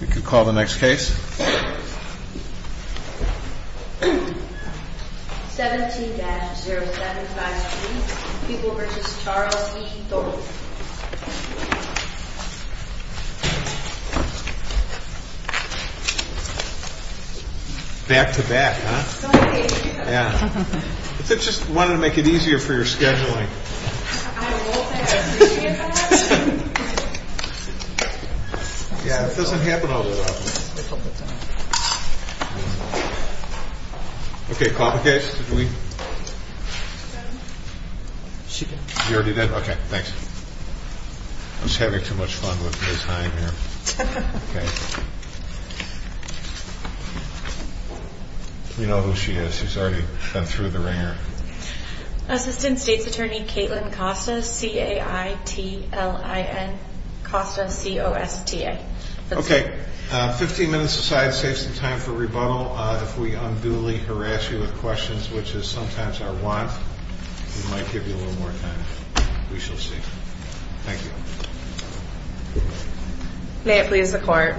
We can call the next case. 17-0753, People V. Charles E. Thornton Back to back, huh? Yeah. I just wanted to make it easier for your scheduling. I know. I appreciate that. Yeah, it doesn't happen all the time. Okay, call the case. She did. You already did? Okay, thanks. I'm just having too much fun with Liz Hine here. We know who she is. She's already been through the ringer. Assistant State's Attorney Caitlin Costa, C-A-I-T-L-I-N, Costa, C-O-S-T-A. Okay, 15 minutes aside, save some time for rebuttal. If we unduly harass you with questions, which is sometimes our want, we might give you a little more time. We shall see. Thank you. May it please the Court,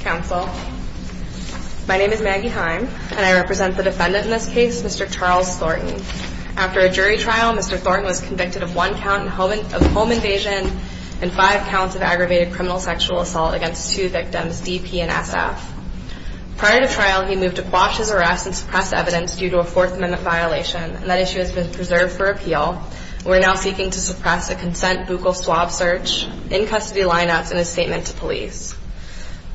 Counsel. My name is Maggie Hine, and I represent the defendant in this case, Mr. Charles Thornton. After a jury trial, Mr. Thornton was convicted of one count of home invasion and five counts of aggravated criminal sexual assault against two victims, D, P, and S, F. Prior to trial, he moved to quash his arrest and suppress evidence due to a Fourth Amendment violation, and that issue has been preserved for appeal. We're now seeking to suppress a consent buccal swab search, in-custody line-ups, and a statement to police.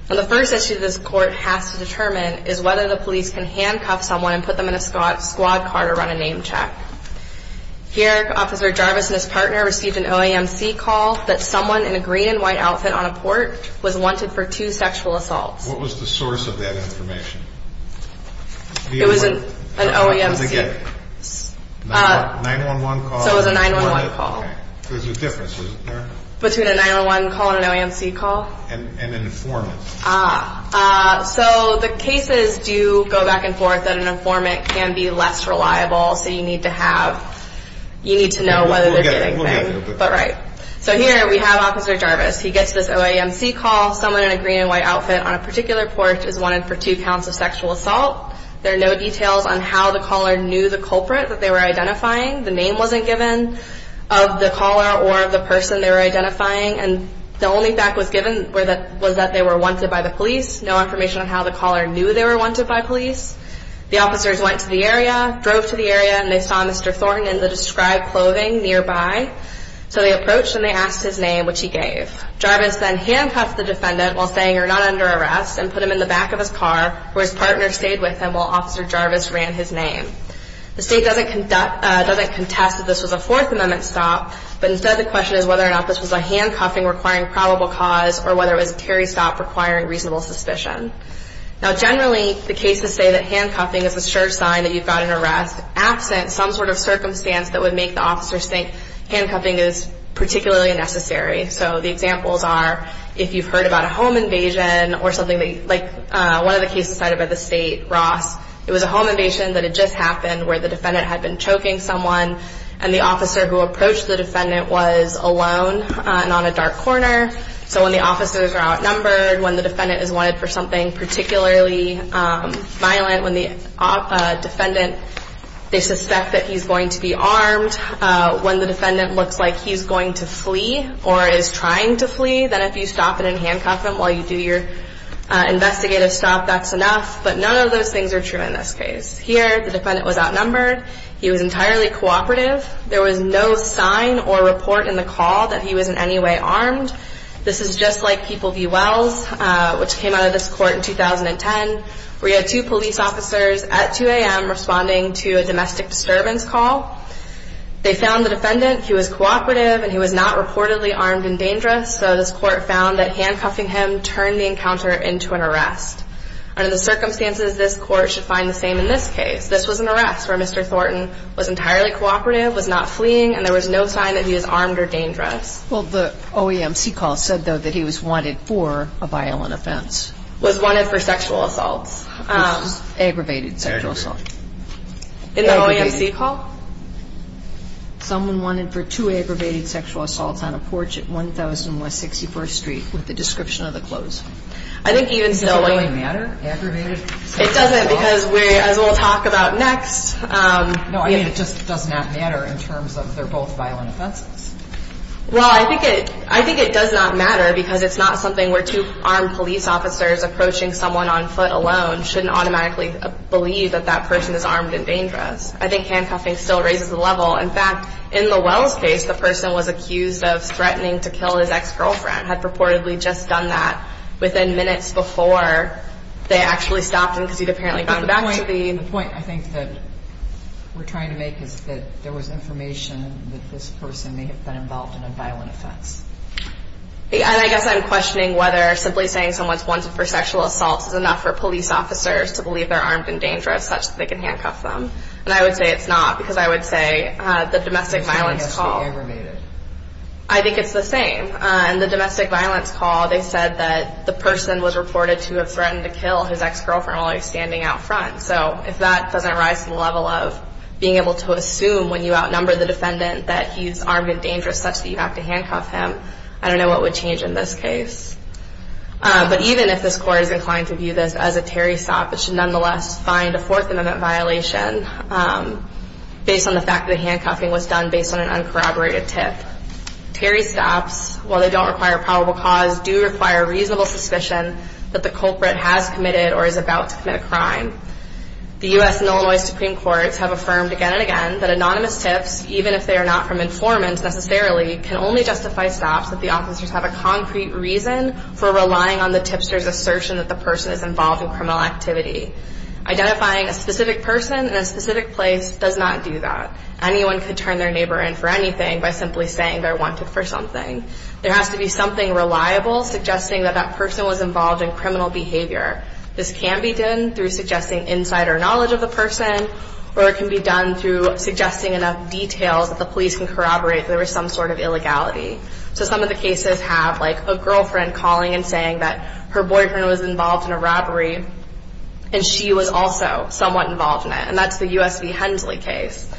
And the first issue this Court has to determine is whether the police can handcuff someone and put them in a squad car to run a name check. Here, Officer Jarvis and his partner received an OAMC call that someone in a green and white outfit on a port was wanted for two sexual assaults. What was the source of that information? It was an OAMC. What did they get? A 911 call? So it was a 911 call. There's a difference, isn't there? Between a 911 call and an OAMC call? And an informant. So the cases do go back and forth, and an informant can be less reliable, so you need to know whether they're getting things. So here we have Officer Jarvis. He gets this OAMC call. Someone in a green and white outfit on a particular porch is wanted for two counts of sexual assault. There are no details on how the caller knew the culprit that they were identifying. The name wasn't given of the caller or of the person they were identifying. And the only fact that was given was that they were wanted by the police. No information on how the caller knew they were wanted by police. The officers went to the area, drove to the area, and they saw Mr. Thornton in the described clothing nearby. So they approached and they asked his name, which he gave. Jarvis then handcuffs the defendant while saying, you're not under arrest, and put him in the back of his car, where his partner stayed with him while Officer Jarvis ran his name. The state doesn't contest that this was a Fourth Amendment stop, but instead the question is whether or not this was a handcuffing requiring probable cause or whether it was a Terry stop requiring reasonable suspicion. Now generally the cases say that handcuffing is a sure sign that you've got an arrest. Absent some sort of circumstance that would make the officers think handcuffing is particularly necessary. So the examples are if you've heard about a home invasion or something like one of the cases cited by the state, Ross. It was a home invasion that had just happened where the defendant had been choking someone and the officer who approached the defendant was alone and on a dark corner. So when the officers are outnumbered, when the defendant is wanted for something particularly violent, when the defendant, they suspect that he's going to be armed, when the defendant looks like he's going to flee or is trying to flee, then if you stop and handcuff him while you do your investigative stop, that's enough. But none of those things are true in this case. Here the defendant was outnumbered. He was entirely cooperative. There was no sign or report in the call that he was in any way armed. This is just like People v. Wells, which came out of this court in 2010, where you had two police officers at 2 a.m. responding to a domestic disturbance call. They found the defendant. He was cooperative and he was not reportedly armed and dangerous. So this court found that handcuffing him turned the encounter into an arrest. Under the circumstances, this court should find the same in this case. This was an arrest where Mr. Thornton was entirely cooperative, was not fleeing, and there was no sign that he was armed or dangerous. Well, the OEMC call said, though, that he was wanted for a violent offense. Was wanted for sexual assaults. Aggravated sexual assault. In the OEMC call? Someone wanted for two aggravated sexual assaults on a porch at 1000 West 61st Street with the description of the clothes. Does it really matter, aggravated sexual assault? It doesn't, because as we'll talk about next. No, I mean, it just does not matter in terms of they're both violent offenses. Well, I think it does not matter, because it's not something where two armed police officers approaching someone on foot alone shouldn't automatically believe that that person is armed and dangerous. I think handcuffing still raises the level. In fact, in the Wells case, the person was accused of threatening to kill his ex-girlfriend, had purportedly just done that within minutes before they actually stopped him because he'd apparently gone back to the... The point, I think, that we're trying to make is that there was information that this person may have been involved in a violent offense. And I guess I'm questioning whether simply saying someone's wanted for sexual assaults is enough for police officers to believe they're armed and dangerous such that they can handcuff them. And I would say it's not, because I would say the domestic violence call... This one has to be aggravated. I think it's the same. In the domestic violence call, they said that the person was reported to have threatened to kill his ex-girlfriend while he was standing out front. So if that doesn't rise to the level of being able to assume when you outnumber the defendant that he's armed and dangerous such that you have to handcuff him, I don't know what would change in this case. But even if this court is inclined to view this as a Terry stop, it should nonetheless find a Fourth Amendment violation based on the fact that the handcuffing was done based on an uncorroborated tip. Terry stops, while they don't require probable cause, do require reasonable suspicion that the culprit has committed or is about to commit a crime. The U.S. and Illinois Supreme Courts have affirmed again and again that anonymous tips, even if they are not from informants necessarily, can only justify stops if the officers have a concrete reason for relying on the tipster's assertion that the person is involved in criminal activity. Identifying a specific person in a specific place does not do that. Anyone could turn their neighbor in for anything by simply saying they're wanted for something. There has to be something reliable suggesting that that person was involved in criminal behavior. This can be done through suggesting insider knowledge of the person, or it can be done through suggesting enough details that the police can corroborate that there was some sort of illegality. So some of the cases have, like, a girlfriend calling and saying that her boyfriend was involved in a robbery, and she was also somewhat involved in it. And that's the U.S. v. Hensley case,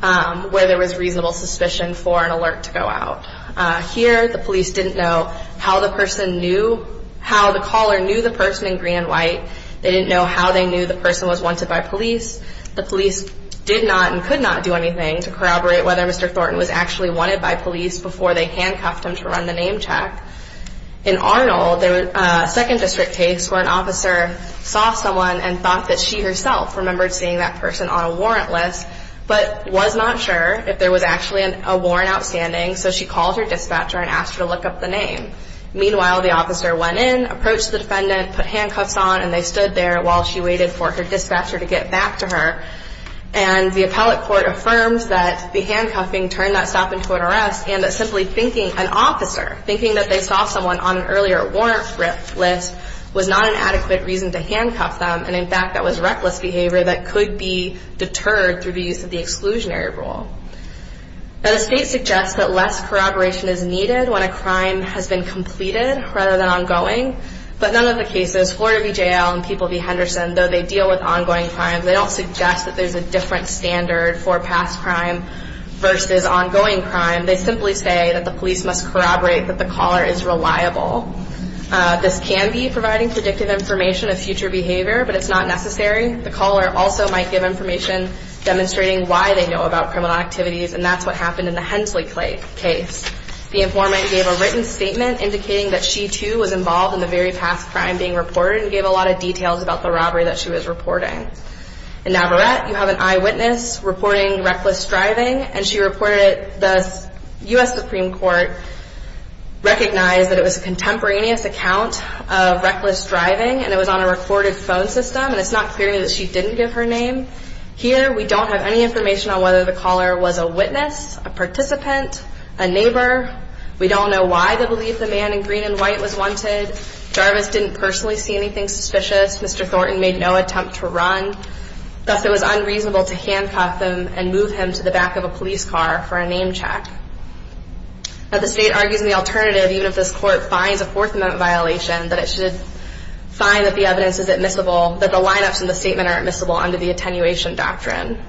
where there was reasonable suspicion for an alert to go out. Here, the police didn't know how the caller knew the person in green and white. They didn't know how they knew the person was wanted by police. The police did not and could not do anything to corroborate whether Mr. Thornton was actually wanted by police before they handcuffed him to run the name check. In Arnold, there was a second district case where an officer saw someone and thought that she herself remembered seeing that person on a warrant list, but was not sure if there was actually a warrant outstanding, so she called her dispatcher and asked her to look up the name. Meanwhile, the officer went in, approached the defendant, put handcuffs on, and they stood there while she waited for her dispatcher to get back to her. And the appellate court affirms that the handcuffing turned that stop into an arrest and that simply thinking an officer, thinking that they saw someone on an earlier warrant list, was not an adequate reason to handcuff them, and in fact that was reckless behavior that could be deterred through the use of the exclusionary rule. Now, the state suggests that less corroboration is needed when a crime has been completed rather than ongoing, but none of the cases, Florida v. J.L. and People v. Henderson, though they deal with ongoing crimes, they don't suggest that there's a different standard for past crime versus ongoing crime. They simply say that the police must corroborate that the caller is reliable. This can be providing predictive information of future behavior, but it's not necessary. The caller also might give information demonstrating why they know about criminal activities, and that's what happened in the Hensley case. The informant gave a written statement indicating that she, too, was involved in the very past crime being reported and gave a lot of details about the robbery that she was reporting. In Navarrette, you have an eyewitness reporting reckless driving, and she reported the U.S. Supreme Court recognized that it was a contemporaneous account of reckless driving and it was on a recorded phone system, and it's not clear that she didn't give her name. Here, we don't have any information on whether the caller was a witness, a participant, a neighbor. We don't know why they believe the man in green and white was wanted. Jarvis didn't personally see anything suspicious. Mr. Thornton made no attempt to run. Thus, it was unreasonable to handcuff him and move him to the back of a police car for a name check. Now, the state argues in the alternative, even if this court finds a Fourth Amendment violation, that it should find that the evidence is admissible, that the lineups in the statement are admissible under the attenuation doctrine.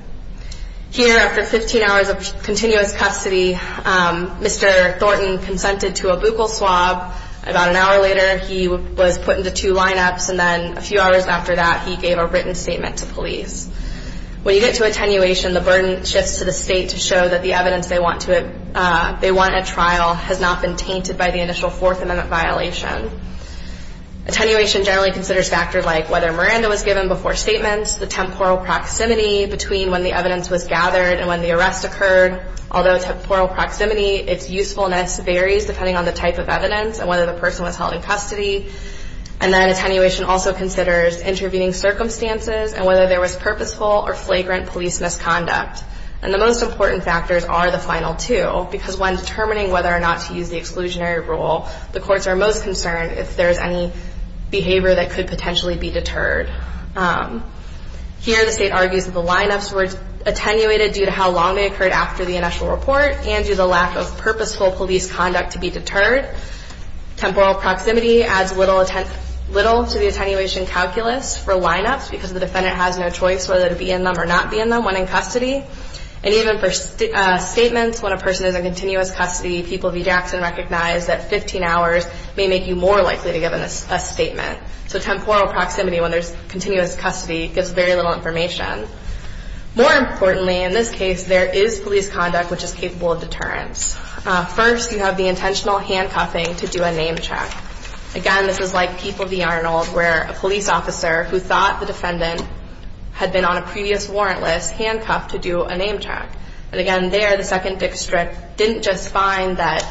Here, after 15 hours of continuous custody, Mr. Thornton consented to a buccal swab. About an hour later, he was put into two lineups, and then a few hours after that, he gave a written statement to police. When you get to attenuation, the burden shifts to the state to show that the evidence they want at trial has not been tainted by the initial Fourth Amendment violation. Attenuation generally considers factors like whether Miranda was given before statements, the temporal proximity between when the evidence was gathered and when the arrest occurred. Although temporal proximity, its usefulness varies depending on the type of evidence and whether the person was held in custody. And then attenuation also considers intervening circumstances and whether there was purposeful or flagrant police misconduct. And the most important factors are the final two, because when determining whether or not to use the exclusionary rule, the courts are most concerned if there is any behavior that could potentially be deterred. Here, the state argues that the lineups were attenuated due to how long they occurred after the initial report and due to the lack of purposeful police conduct to be deterred. Temporal proximity adds little to the attenuation calculus for lineups because the defendant has no choice whether to be in them or not be in them when in custody. And even for statements, when a person is in continuous custody, people of E. Jackson recognize that 15 hours may make you more likely to give a statement. So temporal proximity, when there's continuous custody, gives very little information. More importantly, in this case, there is police conduct which is capable of deterrence. First, you have the intentional handcuffing to do a name check. Again, this is like Keeper v. Arnold where a police officer who thought the defendant had been on a previous warrant list handcuffed to do a name check. And again, there, the second district didn't just find that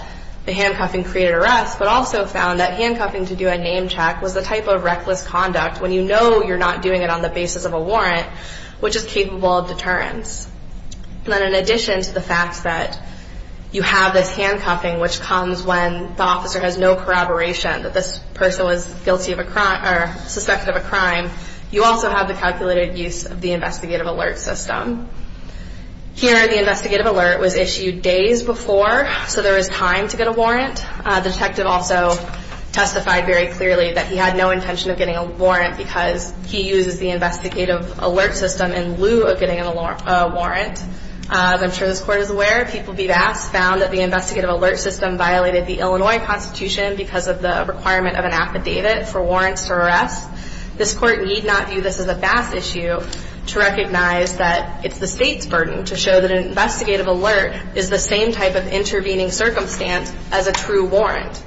the handcuffing created arrest but also found that handcuffing to do a name check was a type of reckless conduct when you know you're not doing it on the basis of a warrant, which is capable of deterrence. And then in addition to the fact that you have this handcuffing, which comes when the officer has no corroboration that this person was guilty of a crime or suspected of a crime, you also have the calculated use of the investigative alert system. Here, the investigative alert was issued days before, so there was time to get a warrant. The detective also testified very clearly that he had no intention of getting a warrant because he uses the investigative alert system in lieu of getting a warrant. I'm sure this Court is aware. People v. Bass found that the investigative alert system violated the Illinois Constitution because of the requirement of an affidavit for warrants to arrest. This Court need not view this as a Bass issue to recognize that it's the State's burden to show that an investigative alert is the same type of intervening circumstance as a true warrant.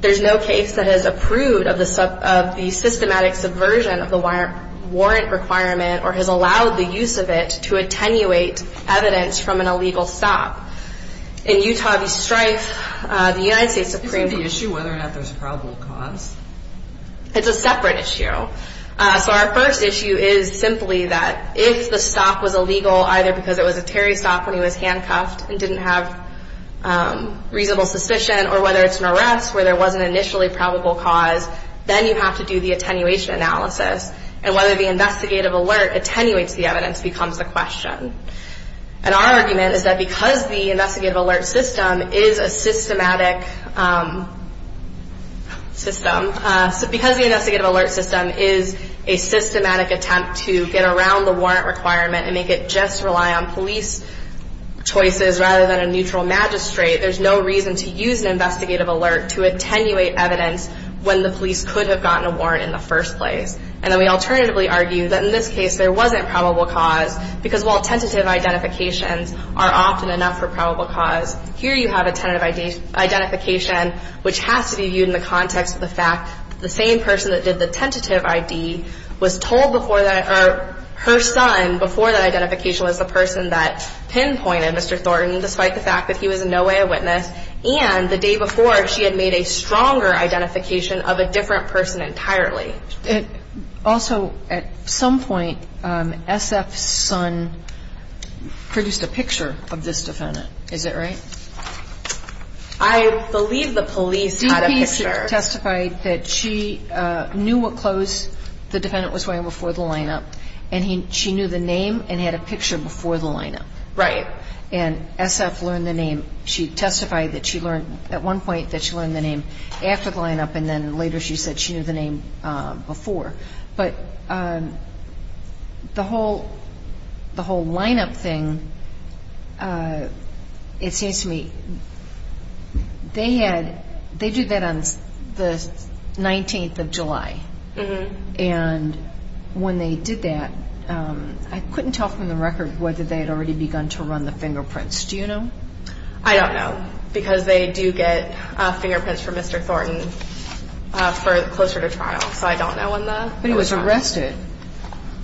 There's no case that has approved of the systematic subversion of the warrant requirement or has allowed the use of it to attenuate evidence from an illegal stop. In Utah v. Strife, the United States Supreme Court Isn't the issue whether or not there's probable cause? It's a separate issue. So our first issue is simply that if the stop was illegal, either because it was a Terry stop when he was handcuffed and didn't have reasonable suspicion, or whether it's an arrest where there was an initially probable cause, then you have to do the attenuation analysis. And whether the investigative alert attenuates the evidence becomes the question. And our argument is that because the investigative alert system is a systematic system, because the investigative alert system is a systematic attempt to get around the warrant requirement and make it just rely on police choices rather than a neutral magistrate, there's no reason to use an investigative alert to attenuate evidence when the police could have gotten a warrant in the first place. And then we alternatively argue that in this case there wasn't probable cause because while tentative identifications are often enough for probable cause, here you have a tentative identification which has to be viewed in the context of the fact that the same person that did the tentative ID was told before that or her son before that identification was the person that pinpointed Mr. Thornton despite the fact that he was in no way a witness, and the day before she had made a stronger identification of a different person entirely. Also, at some point, SF's son produced a picture of this defendant. Is that right? I believe the police had a picture. The police testified that she knew what clothes the defendant was wearing before the lineup, and she knew the name and had a picture before the lineup. Right. And SF learned the name. She testified that she learned at one point that she learned the name after the lineup, and then later she said she knew the name before. But the whole lineup thing, it seems to me, they did that on the 19th of July. And when they did that, I couldn't tell from the record whether they had already begun to run the fingerprints. Do you know? I don't know because they do get fingerprints from Mr. Thornton closer to trial, so I don't know when that was done. But he was arrested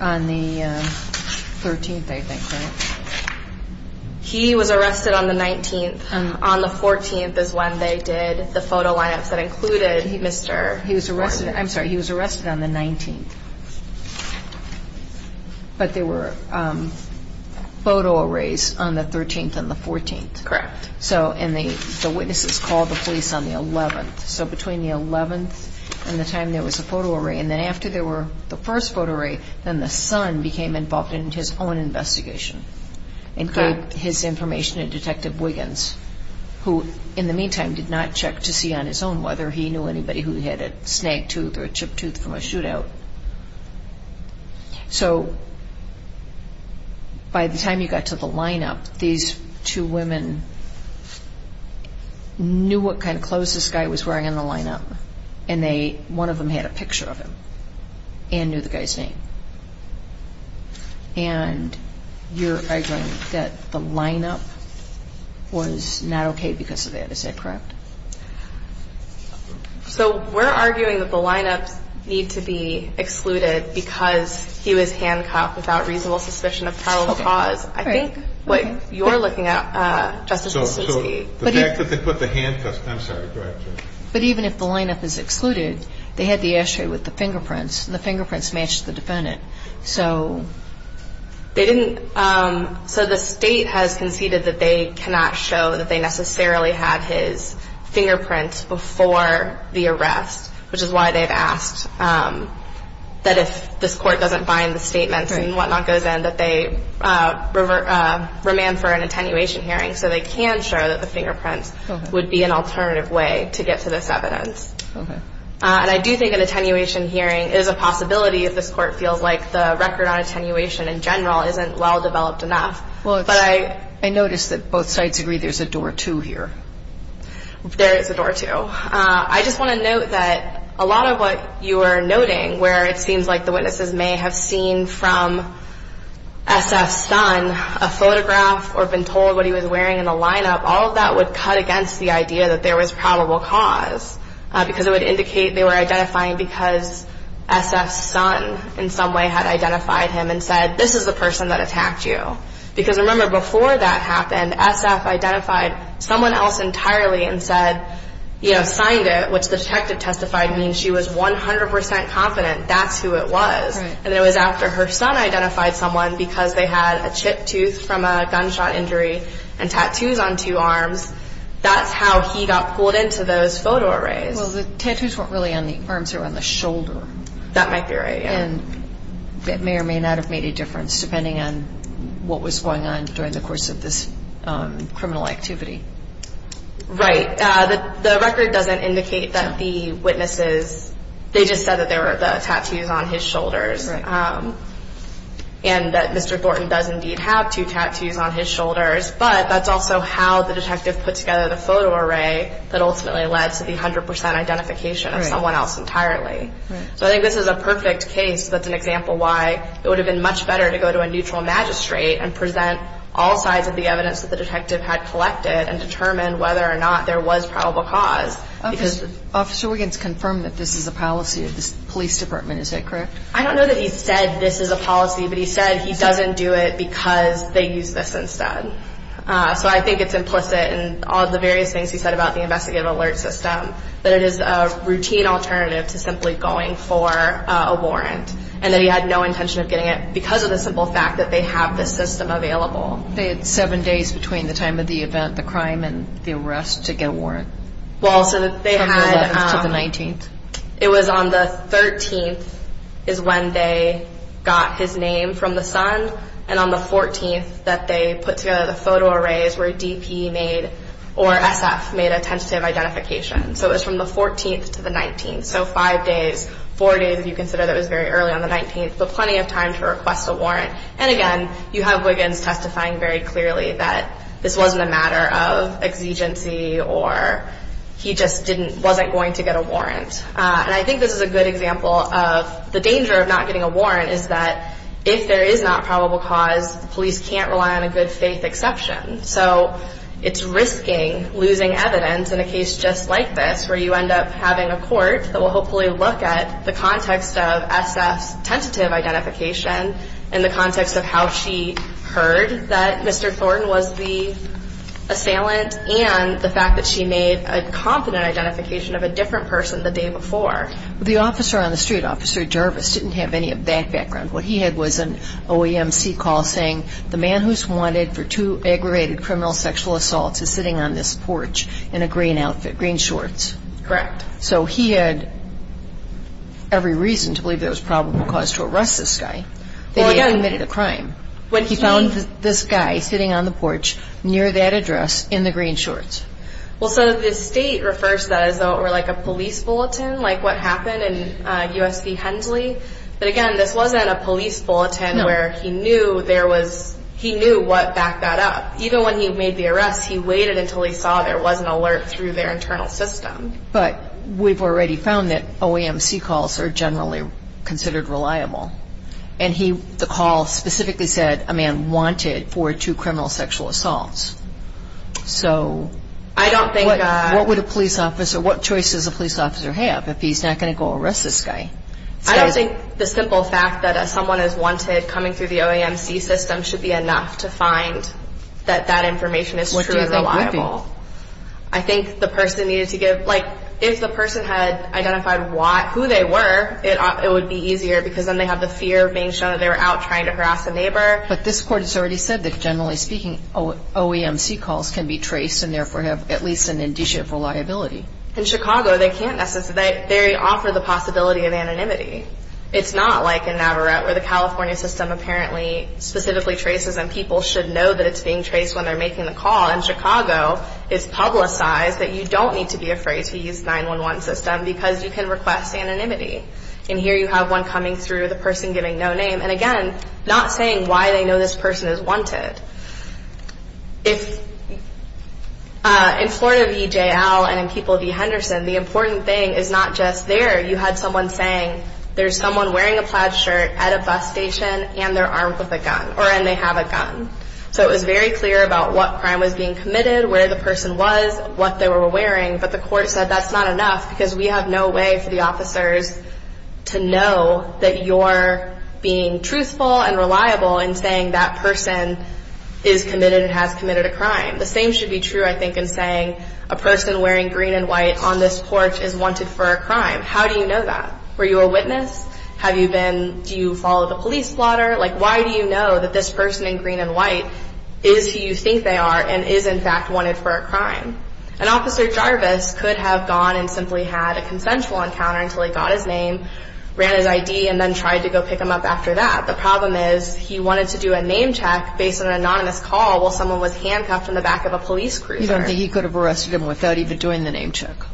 on the 13th, I think, right? He was arrested on the 19th. On the 14th is when they did the photo lineups that included Mr. Thornton. I'm sorry, he was arrested on the 19th. But there were photo arrays on the 13th and the 14th. Correct. And the witnesses called the police on the 11th. So between the 11th and the time there was a photo array, and then after there were the first photo array, then the son became involved in his own investigation and gave his information to Detective Wiggins, who, in the meantime, did not check to see on his own whether he knew anybody who had a snagged tooth or a chipped tooth from a shootout. So by the time you got to the lineup, these two women knew what kind of clothes this guy was wearing in the lineup, and one of them had a picture of him and knew the guy's name. And you're arguing that the lineup was not okay because of that. Is that correct? So we're arguing that the lineups need to be excluded because he was handcuffed without reasonable suspicion of probable cause. I think what you're looking at, Justice Kuczynski— So the fact that they put the handcuffs—I'm sorry, go ahead. But even if the lineup is excluded, they had the ashtray with the fingerprints, and the fingerprints matched the defendant, so— They didn't—so the State has conceded that they cannot show that they necessarily had his fingerprints before the arrest, which is why they've asked that if this Court doesn't bind the statements and whatnot goes in, that they remand for an attenuation hearing so they can show that the fingerprints would be an alternative way to get to this evidence. Okay. And I do think an attenuation hearing is a possibility if this Court feels like the record on attenuation in general isn't well-developed enough. Well, it's— But I— I notice that both sides agree there's a door to here. There is a door to. I just want to note that a lot of what you are noting, where it seems like the witnesses may have seen from S.F.'s son a photograph or been told what he was wearing in the lineup, all of that would cut against the idea that there was probable cause because it would indicate they were identifying because S.F.'s son, in some way, had identified him and said, this is the person that attacked you. Because, remember, before that happened, S.F. identified someone else entirely and said, you know, signed it, which the detective testified means she was 100 percent confident that's who it was. Right. And it was after her son identified someone because they had a chipped tooth from a gunshot injury and tattoos on two arms, that's how he got pulled into those photo arrays. Well, the tattoos weren't really on the arms, they were on the shoulder. That might be right, yeah. And it may or may not have made a difference, depending on what was going on during the course of this criminal activity. Right. The record doesn't indicate that the witnesses—they just said that there were the tattoos on his shoulders. Right. And that Mr. Thornton does indeed have two tattoos on his shoulders, but that's also how the detective put together the photo array that ultimately led to the 100 percent identification of someone else entirely. Right. So I think this is a perfect case. That's an example why it would have been much better to go to a neutral magistrate and present all sides of the evidence that the detective had collected and determine whether or not there was probable cause. Officer Wiggins confirmed that this is a policy of the police department. Is that correct? I don't know that he said this is a policy, but he said he doesn't do it because they use this instead. So I think it's implicit in all of the various things he said about the investigative alert system that it is a routine alternative to simply going for a warrant and that he had no intention of getting it because of the simple fact that they have this system available. They had seven days between the time of the event, the crime, and the arrest to get a warrant. Well, so they had— From the 11th to the 19th. It was on the 13th is when they got his name from the son, and on the 14th that they put together the photo arrays where DP made or SF made a tentative identification. So it was from the 14th to the 19th. So five days, four days if you consider that it was very early on the 19th, but plenty of time to request a warrant. And again, you have Wiggins testifying very clearly that this wasn't a matter of exigency or he just wasn't going to get a warrant. And I think this is a good example of the danger of not getting a warrant is that if there is not probable cause, police can't rely on a good faith exception. So it's risking losing evidence in a case just like this where you end up having a court that will hopefully look at the context of SF's tentative identification in the context of how she heard that Mr. Thornton was the assailant and the fact that she made a confident identification of a different person the day before. The officer on the street, Officer Jarvis, didn't have any of that background. What he had was an OEMC call saying, the man who's wanted for two aggravated criminal sexual assaults is sitting on this porch in a green outfit, green shorts. Correct. So he had every reason to believe there was probable cause to arrest this guy, that he had committed a crime. He found this guy sitting on the porch near that address in the green shorts. Well, so the state refers to that as though it were like a police bulletin, like what happened in USC Hensley. But again, this wasn't a police bulletin where he knew what backed that up. Even when he made the arrest, he waited until he saw there was an alert through their internal system. But we've already found that OEMC calls are generally considered reliable. And the call specifically said a man wanted for two criminal sexual assaults. So what choices would a police officer have if he's not going to go arrest this guy? I don't think the simple fact that someone is wanted coming through the OEMC system should be enough to find that that information is true and reliable. What do you think would be? I think the person needed to give, like, if the person had identified who they were, it would be easier because then they have the fear of being shown that they were out trying to harass a neighbor. But this Court has already said that, generally speaking, OEMC calls can be traced and therefore have at least an indicia of reliability. In Chicago, they can't necessarily. They offer the possibility of anonymity. It's not like in Navarrete where the California system apparently specifically traces and people should know that it's being traced when they're making the call. In Chicago, it's publicized that you don't need to be afraid to use 911 system because you can request anonymity. And here you have one coming through, the person giving no name. And again, not saying why they know this person is wanted. In Florida V. J. L. and in people V. Henderson, the important thing is not just there. You had someone saying there's someone wearing a plaid shirt at a bus station So it was very clear about what crime was being committed, where the person was, what they were wearing. But the Court said that's not enough because we have no way for the officers to know that you're being truthful and reliable in saying that person is committed and has committed a crime. The same should be true, I think, in saying a person wearing green and white on this porch is wanted for a crime. How do you know that? Were you a witness? Have you been, do you follow the police plotter? Why do you know that this person in green and white is who you think they are and is in fact wanted for a crime? And Officer Jarvis could have gone and simply had a consensual encounter until he got his name, ran his ID, and then tried to go pick him up after that. The problem is he wanted to do a name check based on an anonymous call while someone was handcuffed in the back of a police cruiser. You don't think he could have arrested him without even doing the name check? No.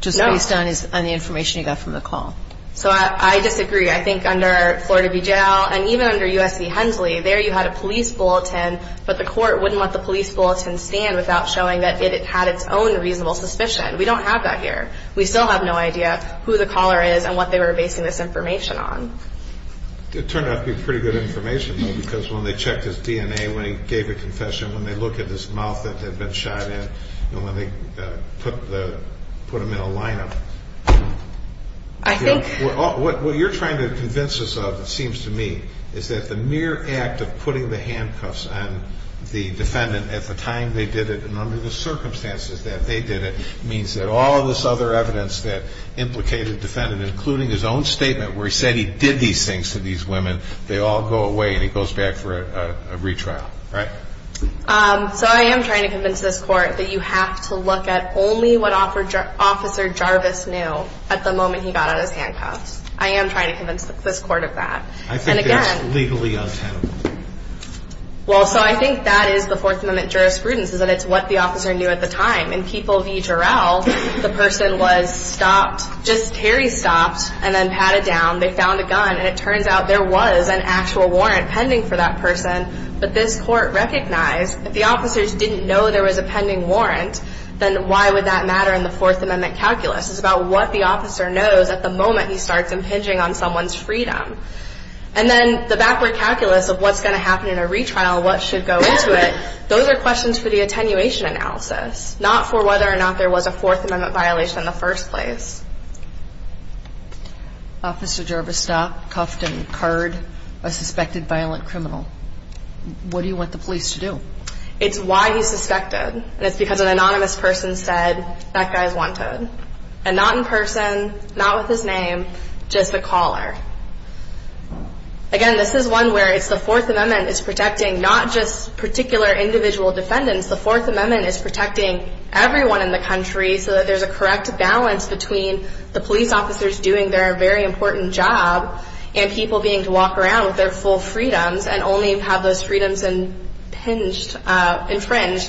Just based on the information he got from the call? So I disagree. I think under Florida v. Jail, and even under U.S. v. Hensley, there you had a police bulletin, but the court wouldn't let the police bulletin stand without showing that it had its own reasonable suspicion. We don't have that here. We still have no idea who the caller is and what they were basing this information on. It turned out to be pretty good information, though, because when they checked his DNA, when he gave a confession, when they looked at his mouth that had been shot in, when they put him in a lineup. What you're trying to convince us of, it seems to me, is that the mere act of putting the handcuffs on the defendant at the time they did it and under the circumstances that they did it, means that all of this other evidence that implicated the defendant, including his own statement where he said he did these things to these women, they all go away and he goes back for a retrial, right? So I am trying to convince this Court that you have to look at only what Officer Jarvis knew at the moment he got out of his handcuffs. I am trying to convince this Court of that. I think that's legally untenable. Well, so I think that is the Fourth Amendment jurisprudence, is that it's what the officer knew at the time. In People v. Jarrell, the person was stopped, just teary stopped, and then patted down. They found a gun, and it turns out there was an actual warrant pending for that person, but this Court recognized if the officers didn't know there was a pending warrant, then why would that matter in the Fourth Amendment calculus? It's about what the officer knows at the moment he starts impinging on someone's freedom. And then the backward calculus of what's going to happen in a retrial, what should go into it, those are questions for the attenuation analysis, not for whether or not there was a Fourth Amendment violation in the first place. Officer Jarvis stopped, cuffed, and carred a suspected violent criminal. What do you want the police to do? It's why he's suspected, and it's because an anonymous person said, that guy's one-toed, and not in person, not with his name, just a caller. Again, this is one where it's the Fourth Amendment is protecting not just particular individual defendants, the Fourth Amendment is protecting everyone in the country so that there's a correct balance between the police officers doing their very important job and people being to walk around with their full freedoms and only have those freedoms infringed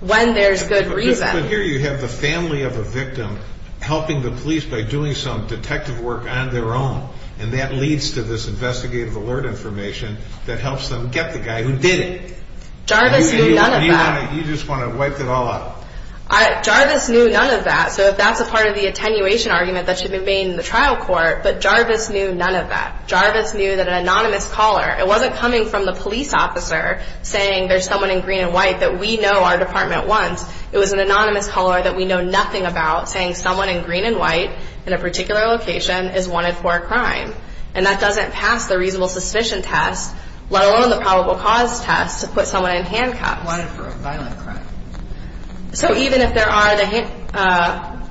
when there's good reason. But here you have the family of a victim helping the police by doing some detective work on their own, and that leads to this investigative alert information that helps them get the guy who did it. Jarvis knew none of that. You just want to wipe it all out. Jarvis knew none of that, so if that's a part of the attenuation argument, that should remain in the trial court, but Jarvis knew none of that. Jarvis knew that an anonymous caller, it wasn't coming from the police officer, saying there's someone in green and white that we know our department wants. It was an anonymous caller that we know nothing about, saying someone in green and white in a particular location is wanted for a crime, and that doesn't pass the reasonable suspicion test, let alone the probable cause test to put someone in handcuffs. Wanted for a violent crime. So even if there are the,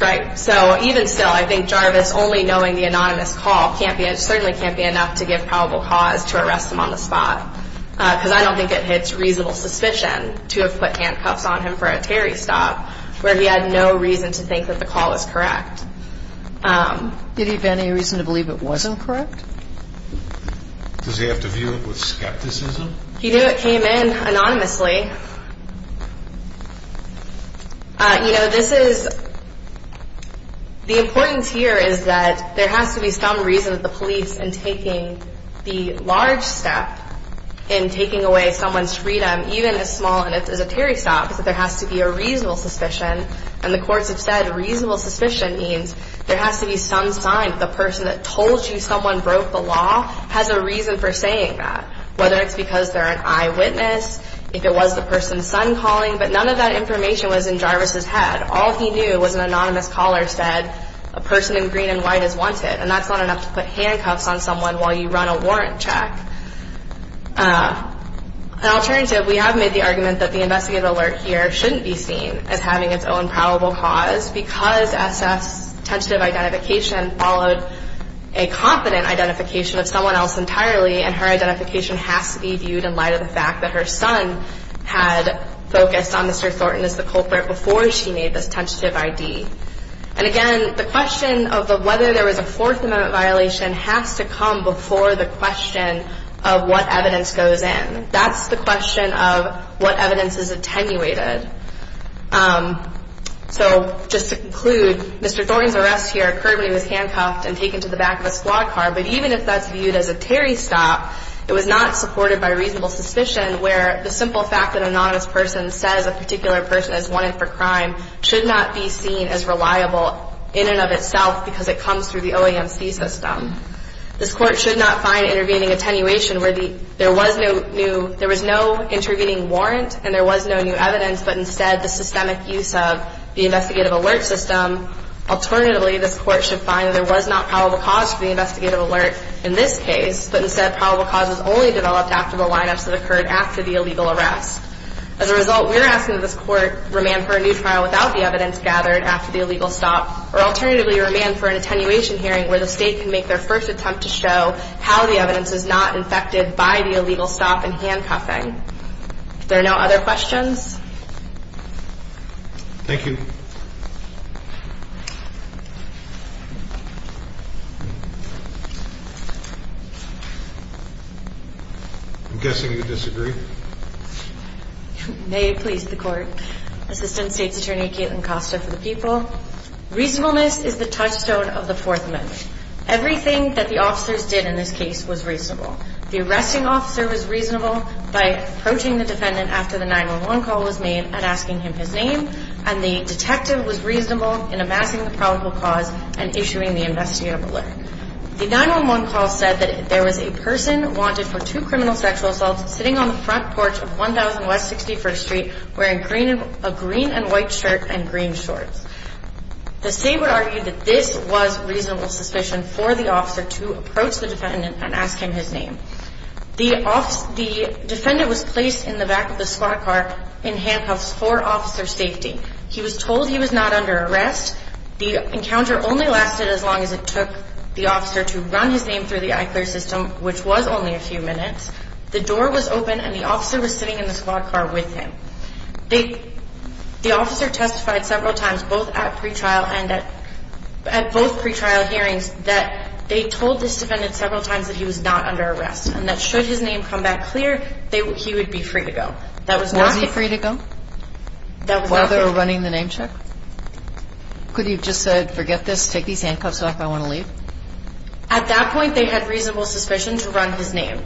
right, so even still, I think Jarvis only knowing the anonymous call certainly can't be enough to give probable cause to arrest him on the spot, because I don't think it hits reasonable suspicion to have put handcuffs on him for a Terry stop, where he had no reason to think that the call was correct. Did he have any reason to believe it wasn't correct? Does he have to view it with skepticism? He knew it came in anonymously. You know, this is, the importance here is that there has to be some reason that the police, in taking the large step in taking away someone's freedom, even as small as a Terry stop, is that there has to be a reasonable suspicion, and the courts have said reasonable suspicion means there has to be some sign that the person that told you someone broke the law has a reason for saying that, whether it's because they're an eyewitness, if it was the person's son calling, but none of that information was in Jarvis' head. All he knew was an anonymous caller said, a person in green and white is wanted, and that's not enough to put handcuffs on someone while you run a warrant check. An alternative, we have made the argument that the investigative alert here shouldn't be seen as having its own probable cause, because SF's tentative identification followed a confident identification of someone else entirely, and her identification has to be viewed in light of the fact that her son had focused on Mr. Thornton as the culprit before she made this tentative ID. And again, the question of whether there was a Fourth Amendment violation has to come before the question of what evidence goes in. That's the question of what evidence is attenuated. So, just to conclude, Mr. Thornton's arrest here occurred when he was handcuffed and taken to the back of a squad car. But even if that's viewed as a Terry stop, it was not supported by reasonable suspicion where the simple fact that an anonymous person says a particular person is wanted for crime should not be seen as reliable in and of itself because it comes through the OAMC system. This Court should not find intervening attenuation where there was no new, there was no intervening warrant and there was no new evidence, but instead the systemic use of the investigative alert system. Alternatively, this Court should find that there was not probable cause for the investigative alert in this case, but instead probable cause was only developed after the lineups that occurred after the illegal arrest. As a result, we are asking that this Court remand for a new trial without the evidence gathered after the illegal stop, or alternatively remand for an attenuation hearing where the State can make their first attempt to show how the evidence is not infected by the illegal stop and handcuffing. If there are no other questions. Thank you. I'm guessing you disagree. May it please the Court. Assistant State's Attorney Caitlin Costa for the People. Reasonableness is the touchstone of the Fourth Amendment. Everything that the officers did in this case was reasonable. The arresting officer was reasonable by approaching the defendant after the 911 call was made and asking him his name, and the detective was reasonable in amassing the probable cause and issuing the investigative alert. The 911 call said that there was a person wanted for two criminal sexual assaults sitting on the front porch of 1000 West 61st Street wearing a green and white shirt and green shorts. The State would argue that this was reasonable suspicion for the officer to approach the defendant and ask him his name. The defendant was placed in the back of the squad car in handcuffs for officer safety. He was told he was not under arrest. The encounter only lasted as long as it took the officer to run his name through the iClear system, which was only a few minutes. The door was open and the officer was sitting in the squad car with him. The officer testified several times, both at pretrial and at both pretrial hearings, that they told this defendant several times that he was not under arrest and that should his name come back clear, he would be free to go. Was he free to go while they were running the name check? Could he have just said, forget this, take these handcuffs off, I want to leave? At that point, they had reasonable suspicion to run his name.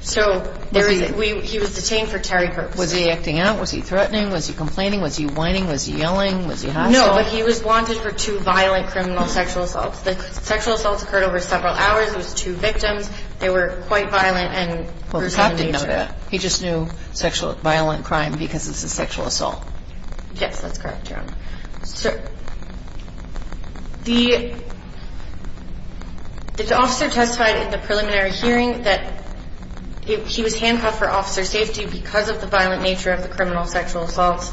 So he was detained for Terry purposes. Was he acting out? Was he threatening? Was he complaining? Was he whining? Was he yelling? No, but he was wanted for two violent criminal sexual assaults. The sexual assaults occurred over several hours. It was two victims. They were quite violent and gruesome in nature. Well, the cop didn't know that. He just knew violent crime because it's a sexual assault. Yes, that's correct, Your Honor. The officer testified in the preliminary hearing that he was handcuffed for officer safety because of the violent nature of the criminal sexual assaults,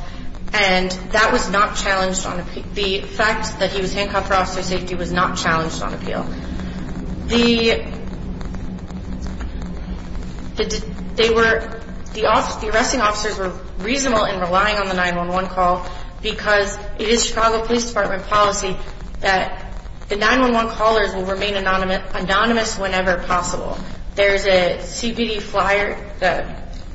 and the fact that he was handcuffed for officer safety was not challenged on appeal. The arresting officers were reasonable in relying on the 911 call because it is Chicago Police Department policy that the 911 callers will remain anonymous whenever possible. There is a CPD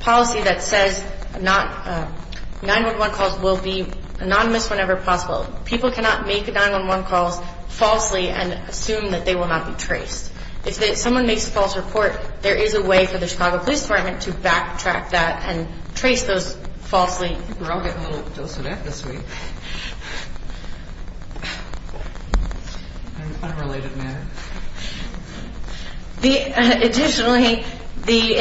policy that says 911 calls will be anonymous whenever possible. People cannot make 911 calls falsely and assume that they will not be traced. If someone makes a false report, there is a way for the Chicago Police Department to backtrack that and trace those falsely. We're all getting a little dosed with F this week in an unrelated manner. Additionally, the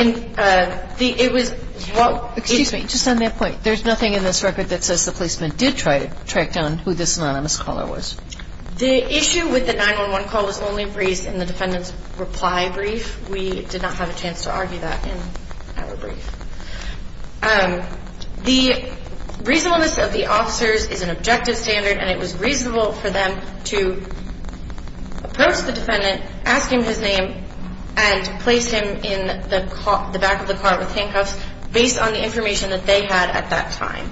– it was what – Excuse me. Just on that point, there's nothing in this record that says the policeman did try to track down who this anonymous caller was. The issue with the 911 call was only raised in the defendant's reply brief. We did not have a chance to argue that in our brief. The reasonableness of the officers is an objective standard, and it was reasonable for them to approach the defendant, ask him his name, and place him in the back of the car with handcuffs based on the information that they had at that time.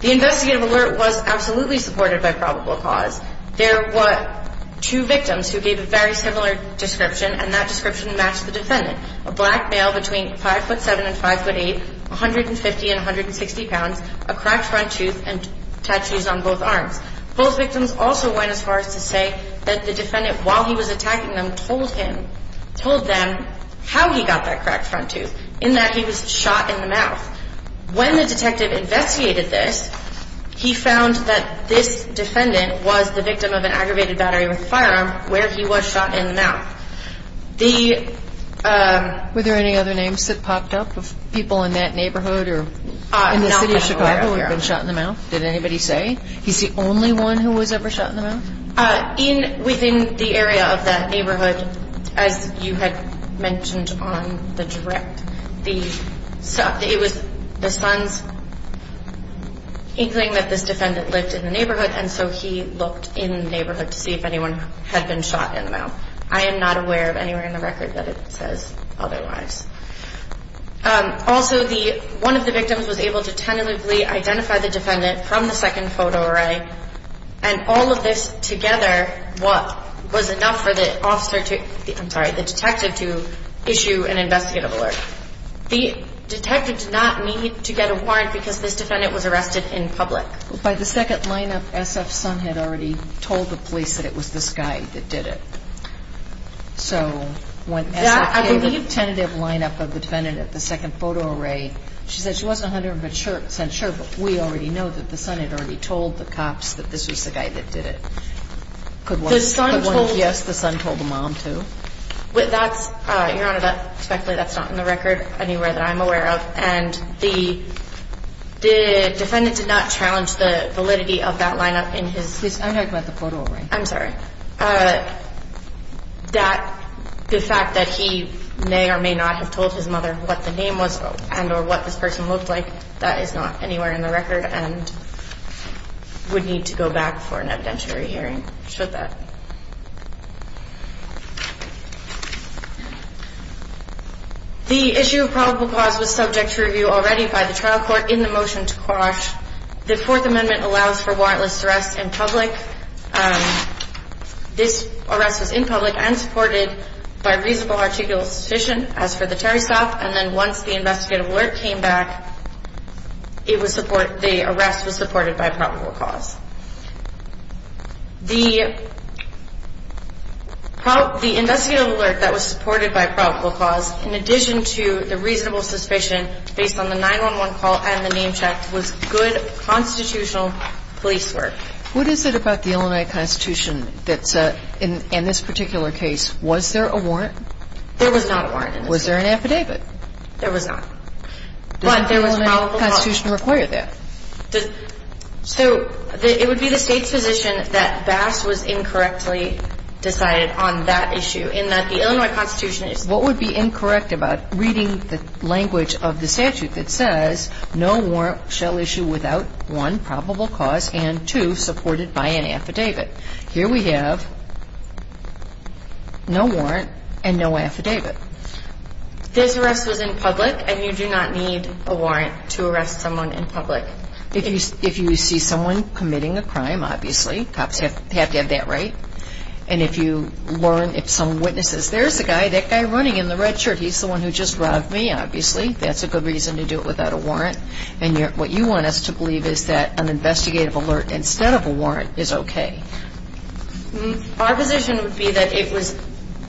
The investigative alert was absolutely supported by probable cause. There were two victims who gave a very similar description, and that description matched the defendant, a black male between 5'7 and 5'8, 150 and 160 pounds, a cracked front tooth and tattoos on both arms. Both victims also went as far as to say that the defendant, while he was attacking them, told him – told them how he got that cracked front tooth, in that he was shot in the mouth. When the detective investigated this, he found that this defendant was the victim of an aggravated battery with a firearm where he was shot in the mouth. The – Were there any other names that popped up of people in that neighborhood or in the city of Chicago? Who had been shot in the mouth? Did anybody say? He's the only one who was ever shot in the mouth? In – within the area of that neighborhood, as you had mentioned on the direct, the – it was the son's inkling that this defendant lived in the neighborhood, and so he looked in the neighborhood to see if anyone had been shot in the mouth. I am not aware of anywhere in the record that it says otherwise. Also, the – one of the victims was able to tentatively identify the defendant from the second photo array, and all of this together was enough for the officer to – I'm sorry, the detective to issue an investigative alert. The detective did not need to get a warrant because this defendant was arrested in public. By the second lineup, SF's son had already told the police that it was this guy that did it. So when SF gave the tentative lineup of the defendant at the second photo array, she said she wasn't 100 percent sure, but we already know that the son had already told the cops that this was the guy that did it. Could one guess the son told the mom, too? That's – Your Honor, that's not in the record anywhere that I'm aware of, and the defendant did not challenge the validity of that lineup in his – I'm talking about the photo array. I'm sorry. That – the fact that he may or may not have told his mother what the name was and – or what this person looked like, that is not anywhere in the record and would need to go back for an evidentiary hearing, should that. The issue of probable cause was subject to review already by the trial court in the motion to quash. The Fourth Amendment allows for warrantless arrest in public. This arrest was in public and supported by reasonable articulation as for the Terry stop, and then once the investigative alert came back, it was – the arrest was supported by probable cause. The investigative alert that was supported by probable cause, in addition to the reasonable suspicion based on the 911 call and the name check, was good constitutional police work. What is it about the Illinois Constitution that's – in this particular case, was there a warrant? There was not a warrant. Was there an affidavit? There was not. But there was probable cause. Does the Illinois Constitution require that? So it would be the State's position that Bass was incorrectly decided on that issue, in that the Illinois Constitution is – what would be incorrect about reading the language of the statute that says, no warrant shall issue without, one, probable cause, and two, supported by an affidavit? Here we have no warrant and no affidavit. This arrest was in public, and you do not need a warrant to arrest someone in public. If you see someone committing a crime, obviously, cops have to have that right. And if you learn if some witness says, there's the guy, that guy running in the red shirt, he's the one who just robbed me, obviously, that's a good reason to do it without a warrant. And what you want us to believe is that an investigative alert instead of a warrant is okay. Our position would be that it was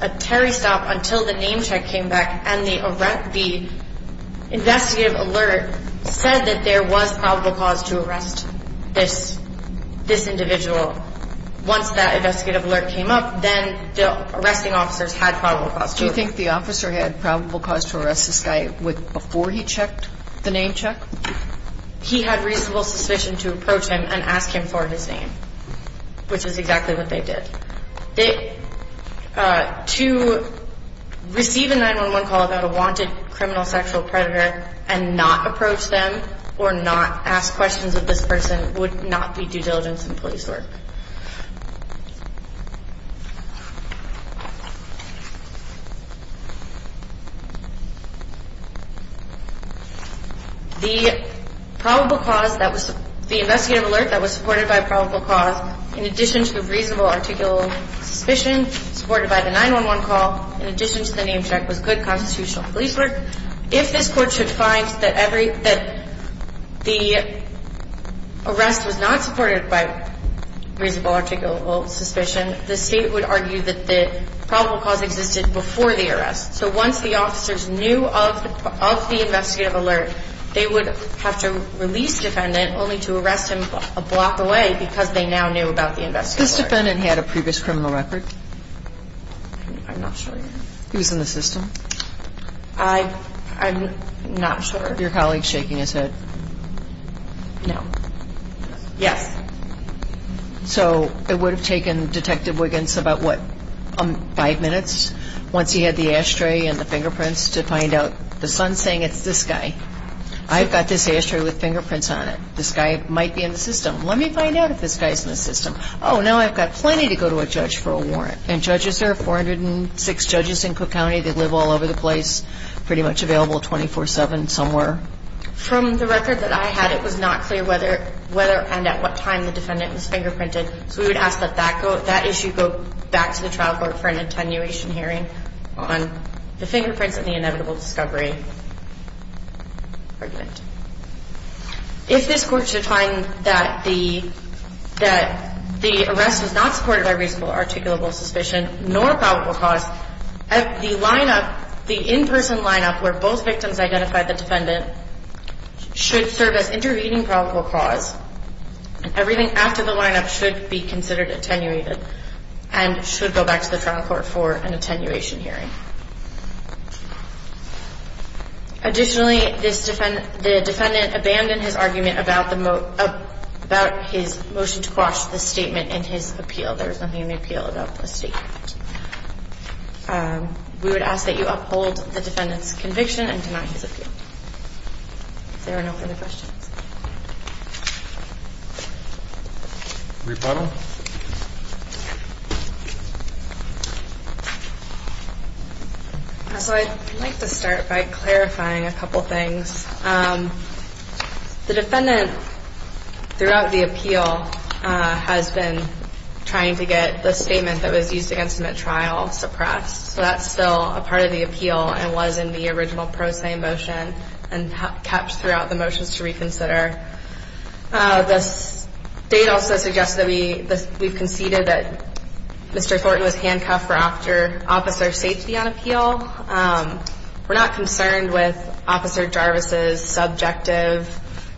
a Terry stop until the name check came back and the investigative alert said that there was probable cause to arrest this individual Once that investigative alert came up, then the arresting officers had probable cause. Do you think the officer had probable cause to arrest this guy before he checked the name check? He had reasonable suspicion to approach him and ask him for his name, which is exactly what they did. To receive a 911 call about a wanted criminal sexual predator and not approach them or not ask questions of this person would not be due diligence in police work. The investigative alert that was supported by probable cause, in addition to a reasonable articulable suspicion supported by the 911 call, in addition to the name check, was good constitutional police work. If this Court should find that the arrest was not supported by reasonable articulable suspicion, the State would argue that the probable cause existed before the arrest. So once the officers knew of the investigative alert, they would have to release defendant only to arrest him a block away because they now knew about the investigative alert. This defendant had a previous criminal record? I'm not sure. He was in the system? I'm not sure. Was your colleague shaking his head? No. Yes. So it would have taken Detective Wiggins about, what, five minutes, once he had the ashtray and the fingerprints, to find out the son's saying it's this guy. I've got this ashtray with fingerprints on it. This guy might be in the system. Let me find out if this guy's in the system. Oh, now I've got plenty to go to a judge for a warrant. And judges there, 406 judges in Cook County that live all over the place, pretty much available 24-7 somewhere? From the record that I had, it was not clear whether and at what time the defendant was fingerprinted, so we would ask that that issue go back to the trial court for an attenuation hearing on the fingerprints and the inevitable discovery argument. If this court should find that the arrest was not supported by reasonable or articulable suspicion nor probable cause, the in-person lineup where both victims identified the defendant should serve as intervening probable cause. Everything after the lineup should be considered attenuated and should go back to the trial court for an attenuation hearing. Additionally, the defendant abandoned his argument about his motion to quash the statement in his appeal. There was nothing in the appeal about the statement. We would ask that you uphold the defendant's conviction and deny his appeal. If there are no further questions. Rebuttal. So I'd like to start by clarifying a couple things. The defendant, throughout the appeal, has been trying to get the statement that was used against him at trial suppressed. So that's still a part of the appeal and was in the original pro se motion and kept throughout the motions to reconsider. The state also suggests that we've conceded that Mr. Thornton was handcuffed for officer safety on appeal. We're not concerned with Officer Jarvis' subjective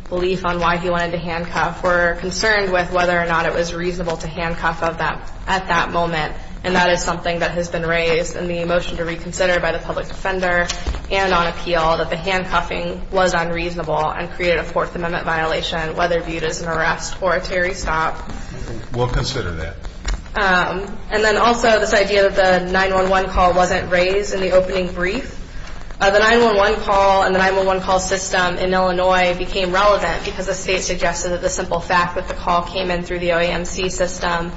belief on why he wanted to handcuff. We're concerned with whether or not it was reasonable to handcuff at that moment, and that is something that has been raised in the motion to reconsider by the public defender and on appeal that the handcuffing was unreasonable and created a Fourth Amendment violation, whether viewed as an arrest or a Terry stop. We'll consider that. And then also this idea that the 911 call wasn't raised in the opening brief. The 911 call and the 911 call system in Illinois became relevant because the state suggested that the simple fact that the call came in through the OAMC system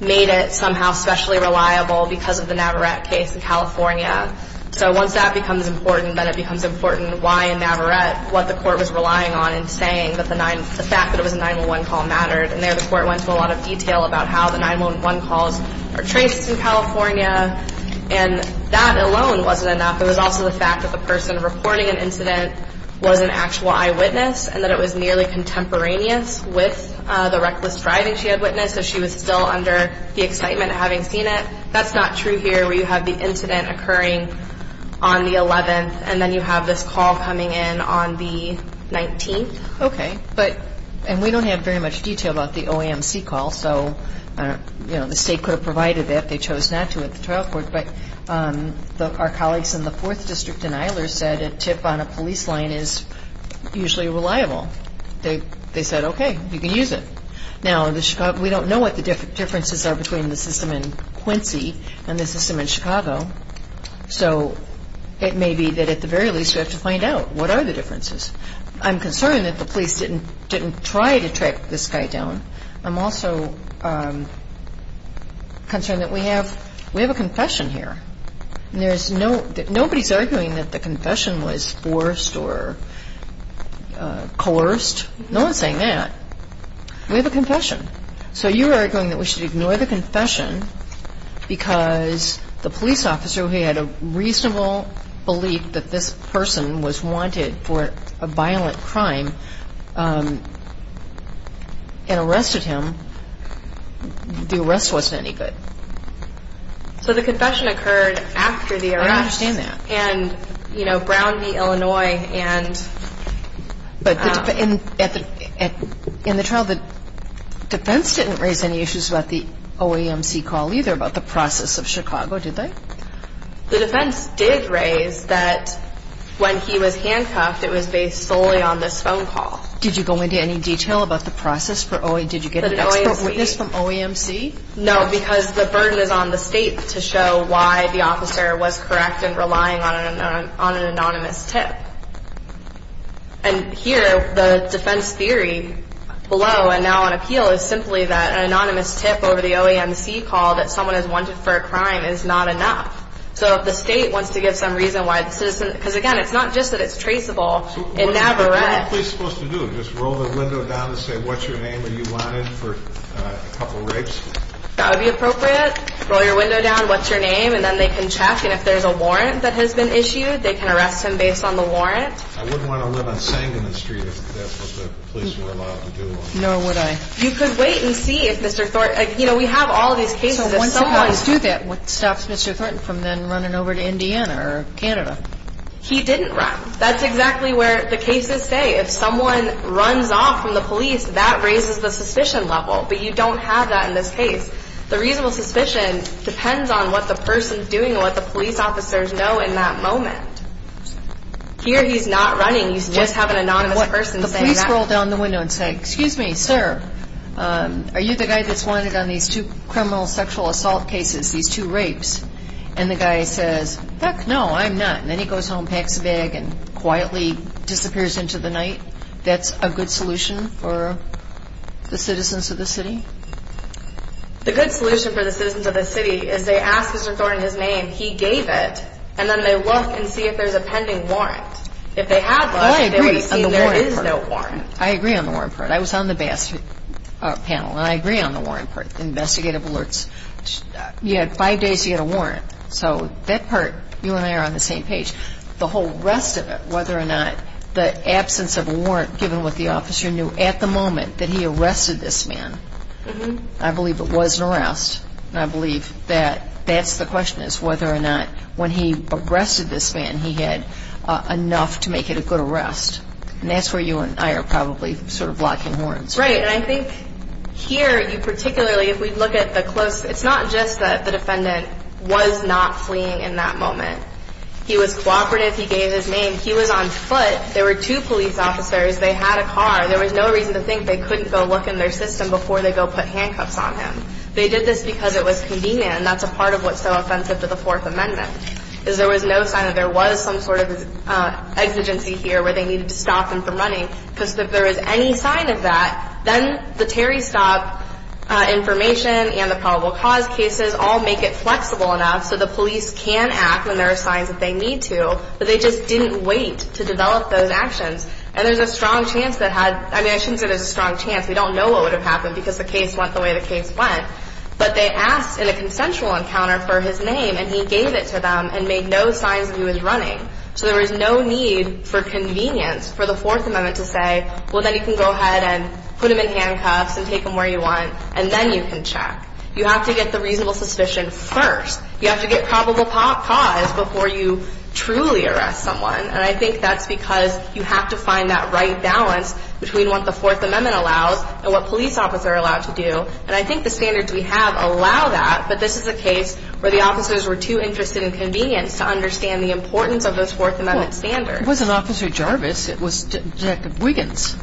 made it somehow specially reliable because of the Navarrette case in California. So once that becomes important, then it becomes important why in Navarrette what the court was relying on and saying that the fact that it was a 911 call mattered, and there the court went to a lot of detail about how the 911 calls are traced in California, and that alone wasn't enough. It was also the fact that the person reporting an incident was an actual eyewitness and that it was nearly contemporaneous with the reckless driving she had witnessed, so she was still under the excitement of having seen it. That's not true here where you have the incident occurring on the 11th, and then you have this call coming in on the 19th. Okay. And we don't have very much detail about the OAMC call, so the state could have provided it if they chose not to at the trial court, but our colleagues in the Fourth District in Eilers said a tip on a police line is usually reliable. They said, okay, you can use it. Now, we don't know what the differences are between the system in Quincy and the system in Chicago, so it may be that at the very least you have to find out what are the differences. I'm concerned that the police didn't try to track this guy down. I'm also concerned that we have a confession here. Nobody is arguing that the confession was forced or coerced. No one is saying that. We have a confession. So you are arguing that we should ignore the confession because the police officer, who had a reasonable belief that this person was wanted for a violent crime and arrested him, the arrest wasn't any good. So the confession occurred after the arrest. I understand that. And, you know, Brown v. Illinois and... But in the trial, the defense didn't raise any issues about the OAMC call either, about the process of Chicago, did they? The defense did raise that when he was handcuffed, it was based solely on this phone call. Did you go into any detail about the process for OAMC? Did you get an expert witness from OAMC? No, because the burden is on the state to show why the officer was correct in relying on an anonymous tip. And here, the defense theory below, and now on appeal, is simply that an anonymous tip over the OAMC call that someone is wanted for a crime is not enough. So if the state wants to give some reason why the citizen... Because, again, it's not just that it's traceable. So what are the police supposed to do? Just roll the window down and say, what's your name? Are you wanted for a couple rapes? That would be appropriate. Roll your window down, what's your name? And then they can check. And if there's a warrant that has been issued, they can arrest him based on the warrant. I wouldn't want to run a sang in the street if that's what the police were allowed to do. Nor would I. You could wait and see if Mr. Thornton... You know, we have all these cases... So once someone does that, what stops Mr. Thornton from then running over to Indiana or Canada? He didn't run. That's exactly where the cases say. If someone runs off from the police, that raises the suspicion level. But you don't have that in this case. The reasonable suspicion depends on what the person's doing and what the police officers know in that moment. Here he's not running. You just have an anonymous person saying that. The police roll down the window and say, excuse me, sir, are you the guy that's wanted on these two criminal sexual assault cases, these two rapes? And the guy says, heck no, I'm not. And then he goes home, packs a bag, and quietly disappears into the night. That's a good solution for the citizens of the city? The good solution for the citizens of the city is they ask Mr. Thornton his name, he gave it, and then they look and see if there's a pending warrant. If they had looked, they would have seen there is no warrant. I agree on the warrant part. I was on the BAS panel, and I agree on the warrant part, investigative alerts. You had five days to get a warrant. So that part, you and I are on the same page. The whole rest of it, whether or not the absence of a warrant, given what the officer knew at the moment that he arrested this man, I believe it was an arrest, and I believe that that's the question is whether or not when he arrested this man he had enough to make it a good arrest. And that's where you and I are probably sort of locking horns. Right, and I think here you particularly, if we look at the close, it's not just that the defendant was not fleeing in that moment. He was cooperative. He gave his name. He was on foot. There were two police officers. They had a car. There was no reason to think they couldn't go look in their system before they go put handcuffs on him. They did this because it was convenient, and that's a part of what's so offensive to the Fourth Amendment, is there was no sign that there was some sort of exigency here where they needed to stop him from running, because if there was any sign of that, then the Terry stop information and the probable cause cases all make it flexible enough so the police can act when there are signs that they need to, but they just didn't wait to develop those actions. And there's a strong chance that had – I shouldn't say there's a strong chance. We don't know what would have happened because the case went the way the case went. But they asked in a consensual encounter for his name, and he gave it to them and made no signs that he was running. So there was no need for convenience for the Fourth Amendment to say, well, then you can go ahead and put him in handcuffs and take him where you want, and then you can check. You have to get the reasonable suspicion first. You have to get probable cause before you truly arrest someone. And I think that's because you have to find that right balance between what the Fourth Amendment allows and what police officers are allowed to do. And I think the standards we have allow that, but this is a case where the officers were too interested in convenience to understand the importance of those Fourth Amendment standards. Well, it wasn't Officer Jarvis. It was Detective Wiggins.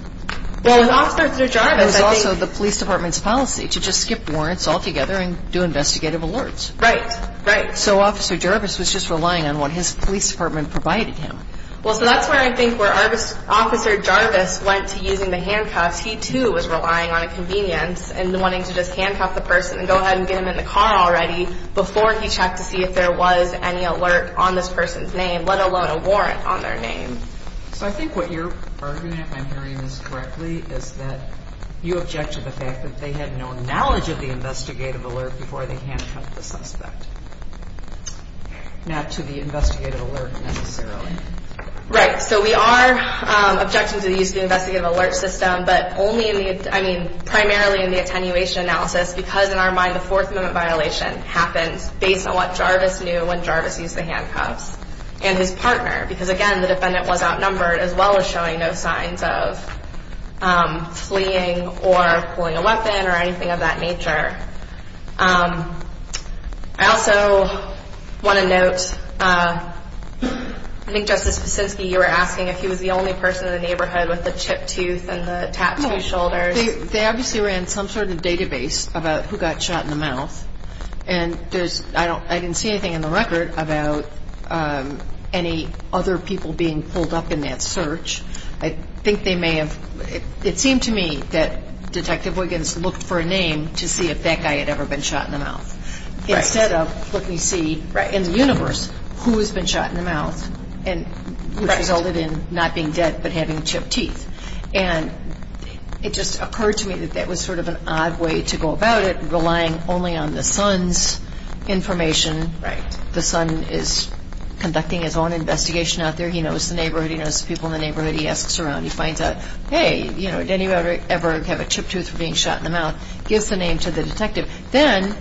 Well, in Officer Jarvis, I think – It was also the police department's policy to just skip warrants altogether and do investigative alerts. Right, right. So Officer Jarvis was just relying on what his police department provided him. Well, so that's where I think where Officer Jarvis went to using the handcuffs, he too was relying on convenience and wanting to just handcuff the person and go ahead and get him in the car already before he checked to see if there was any alert on this person's name, let alone a warrant on their name. So I think what you're arguing, if I'm hearing this correctly, is that you object to the fact that they had no knowledge of the investigative alert before they handcuffed the suspect, not to the investigative alert necessarily. Right. So we are objecting to the use of the investigative alert system, but only in the – I mean, primarily in the attenuation analysis because in our mind the Fourth Amendment violation happened based on what Jarvis knew when Jarvis used the handcuffs and his partner because, again, the defendant was outnumbered as well as showing no signs of fleeing or pulling a weapon or anything of that nature. I also want to note, I think Justice Kuczynski, you were asking if he was the only person in the neighborhood with the chipped tooth and the tattooed shoulders. They obviously ran some sort of database about who got shot in the mouth, and I didn't see anything in the record about any other people being pulled up in that search. I think they may have – it seemed to me that Detective Wiggins looked for a name to see if that guy had ever been shot in the mouth. Right. Instead of looking to see in the universe who has been shot in the mouth which resulted in not being dead but having chipped teeth. And it just occurred to me that that was sort of an odd way to go about it, relying only on the son's information. Right. The son is conducting his own investigation out there. He knows the neighborhood. He knows the people in the neighborhood. He asks around. He finds out, hey, did anyone ever have a chipped tooth being shot in the mouth? Gives the name to the detective. Then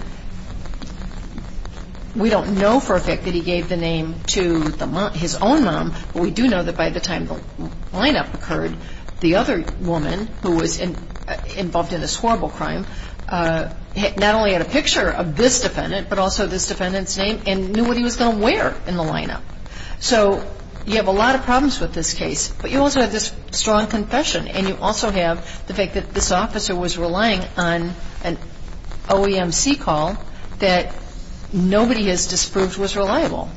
we don't know for a fact that he gave the name to his own mom, but we do know that by the time the lineup occurred, the other woman who was involved in this horrible crime not only had a picture of this defendant but also this defendant's name and knew what he was going to wear in the lineup. So you have a lot of problems with this case, but you also have this strong confession, and you also have the fact that this officer was relying on an OEMC call that nobody has disproved was reliable.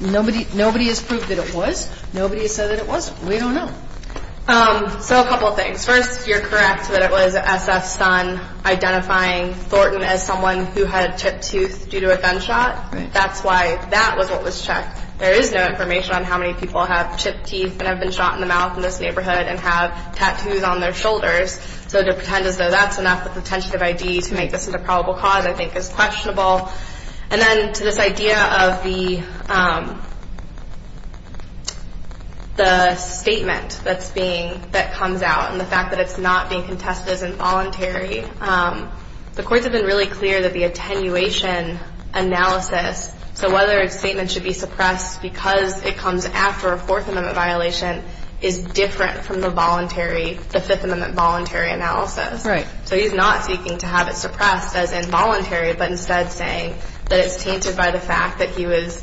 Nobody has proved that it was. Nobody has said that it wasn't. We don't know. So a couple of things. First, you're correct that it was SF's son identifying Thornton as someone who had a chipped tooth due to a gunshot. That's why that was what was checked. There is no information on how many people have chipped teeth and have been shot in the mouth in this neighborhood and have tattoos on their shoulders. So to pretend as though that's enough of a pretentious ID to make this into probable cause I think is questionable. And then to this idea of the statement that comes out and the fact that it's not being contested as involuntary, the courts have been really clear that the attenuation analysis, so whether a statement should be suppressed because it comes after a Fourth Amendment violation, is different from the voluntary, the Fifth Amendment voluntary analysis. Right. So he's not seeking to have it suppressed as involuntary, but instead saying that it's tainted by the fact that he was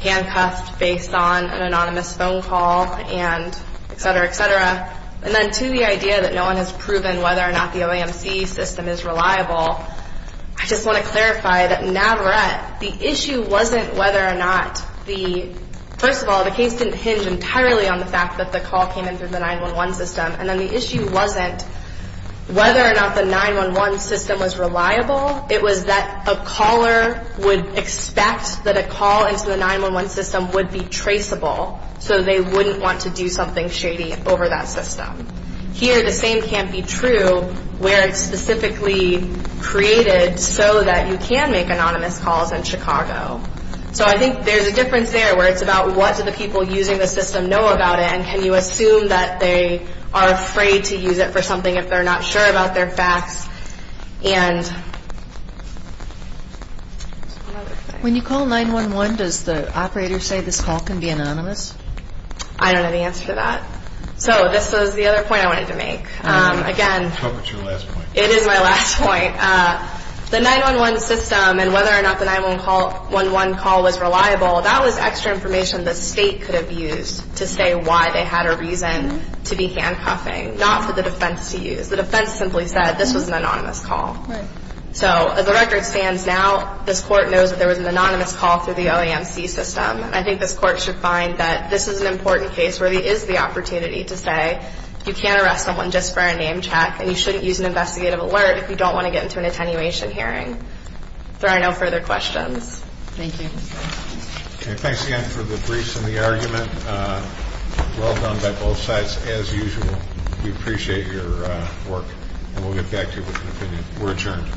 handcuffed based on an anonymous phone call and et cetera, et cetera. And then to the idea that no one has proven whether or not the OAMC system is reliable, I just want to clarify that Navarette, the issue wasn't whether or not the, first of all, the case didn't hinge entirely on the fact that the call came in through the 911 system. And then the issue wasn't whether or not the 911 system was reliable. It was that a caller would expect that a call into the 911 system would be traceable, so they wouldn't want to do something shady over that system. Here, the same can't be true where it's specifically created so that you can make anonymous calls in Chicago. So I think there's a difference there where it's about what do the people using the system know about it and can you assume that they are afraid to use it for something if they're not sure about their facts. And another thing. When you call 911, does the operator say this call can be anonymous? I don't have the answer to that. So this is the other point I wanted to make. Again, it is my last point. The 911 system and whether or not the 911 call was reliable, that was extra information the state could have used to say why they had a reason to be handcuffing, not for the defense to use. The defense simply said this was an anonymous call. So as the record stands now, this court knows that there was an anonymous call through the OAMC system. I think this court should find that this is an important case where there is the opportunity to say you can't arrest someone just for a name check and you shouldn't use an investigative alert if you don't want to get into an attenuation hearing. If there are no further questions. Thank you. Thanks again for the briefs and the argument. Well done by both sides, as usual. We appreciate your work. And we'll get back to you with an opinion. We're adjourned.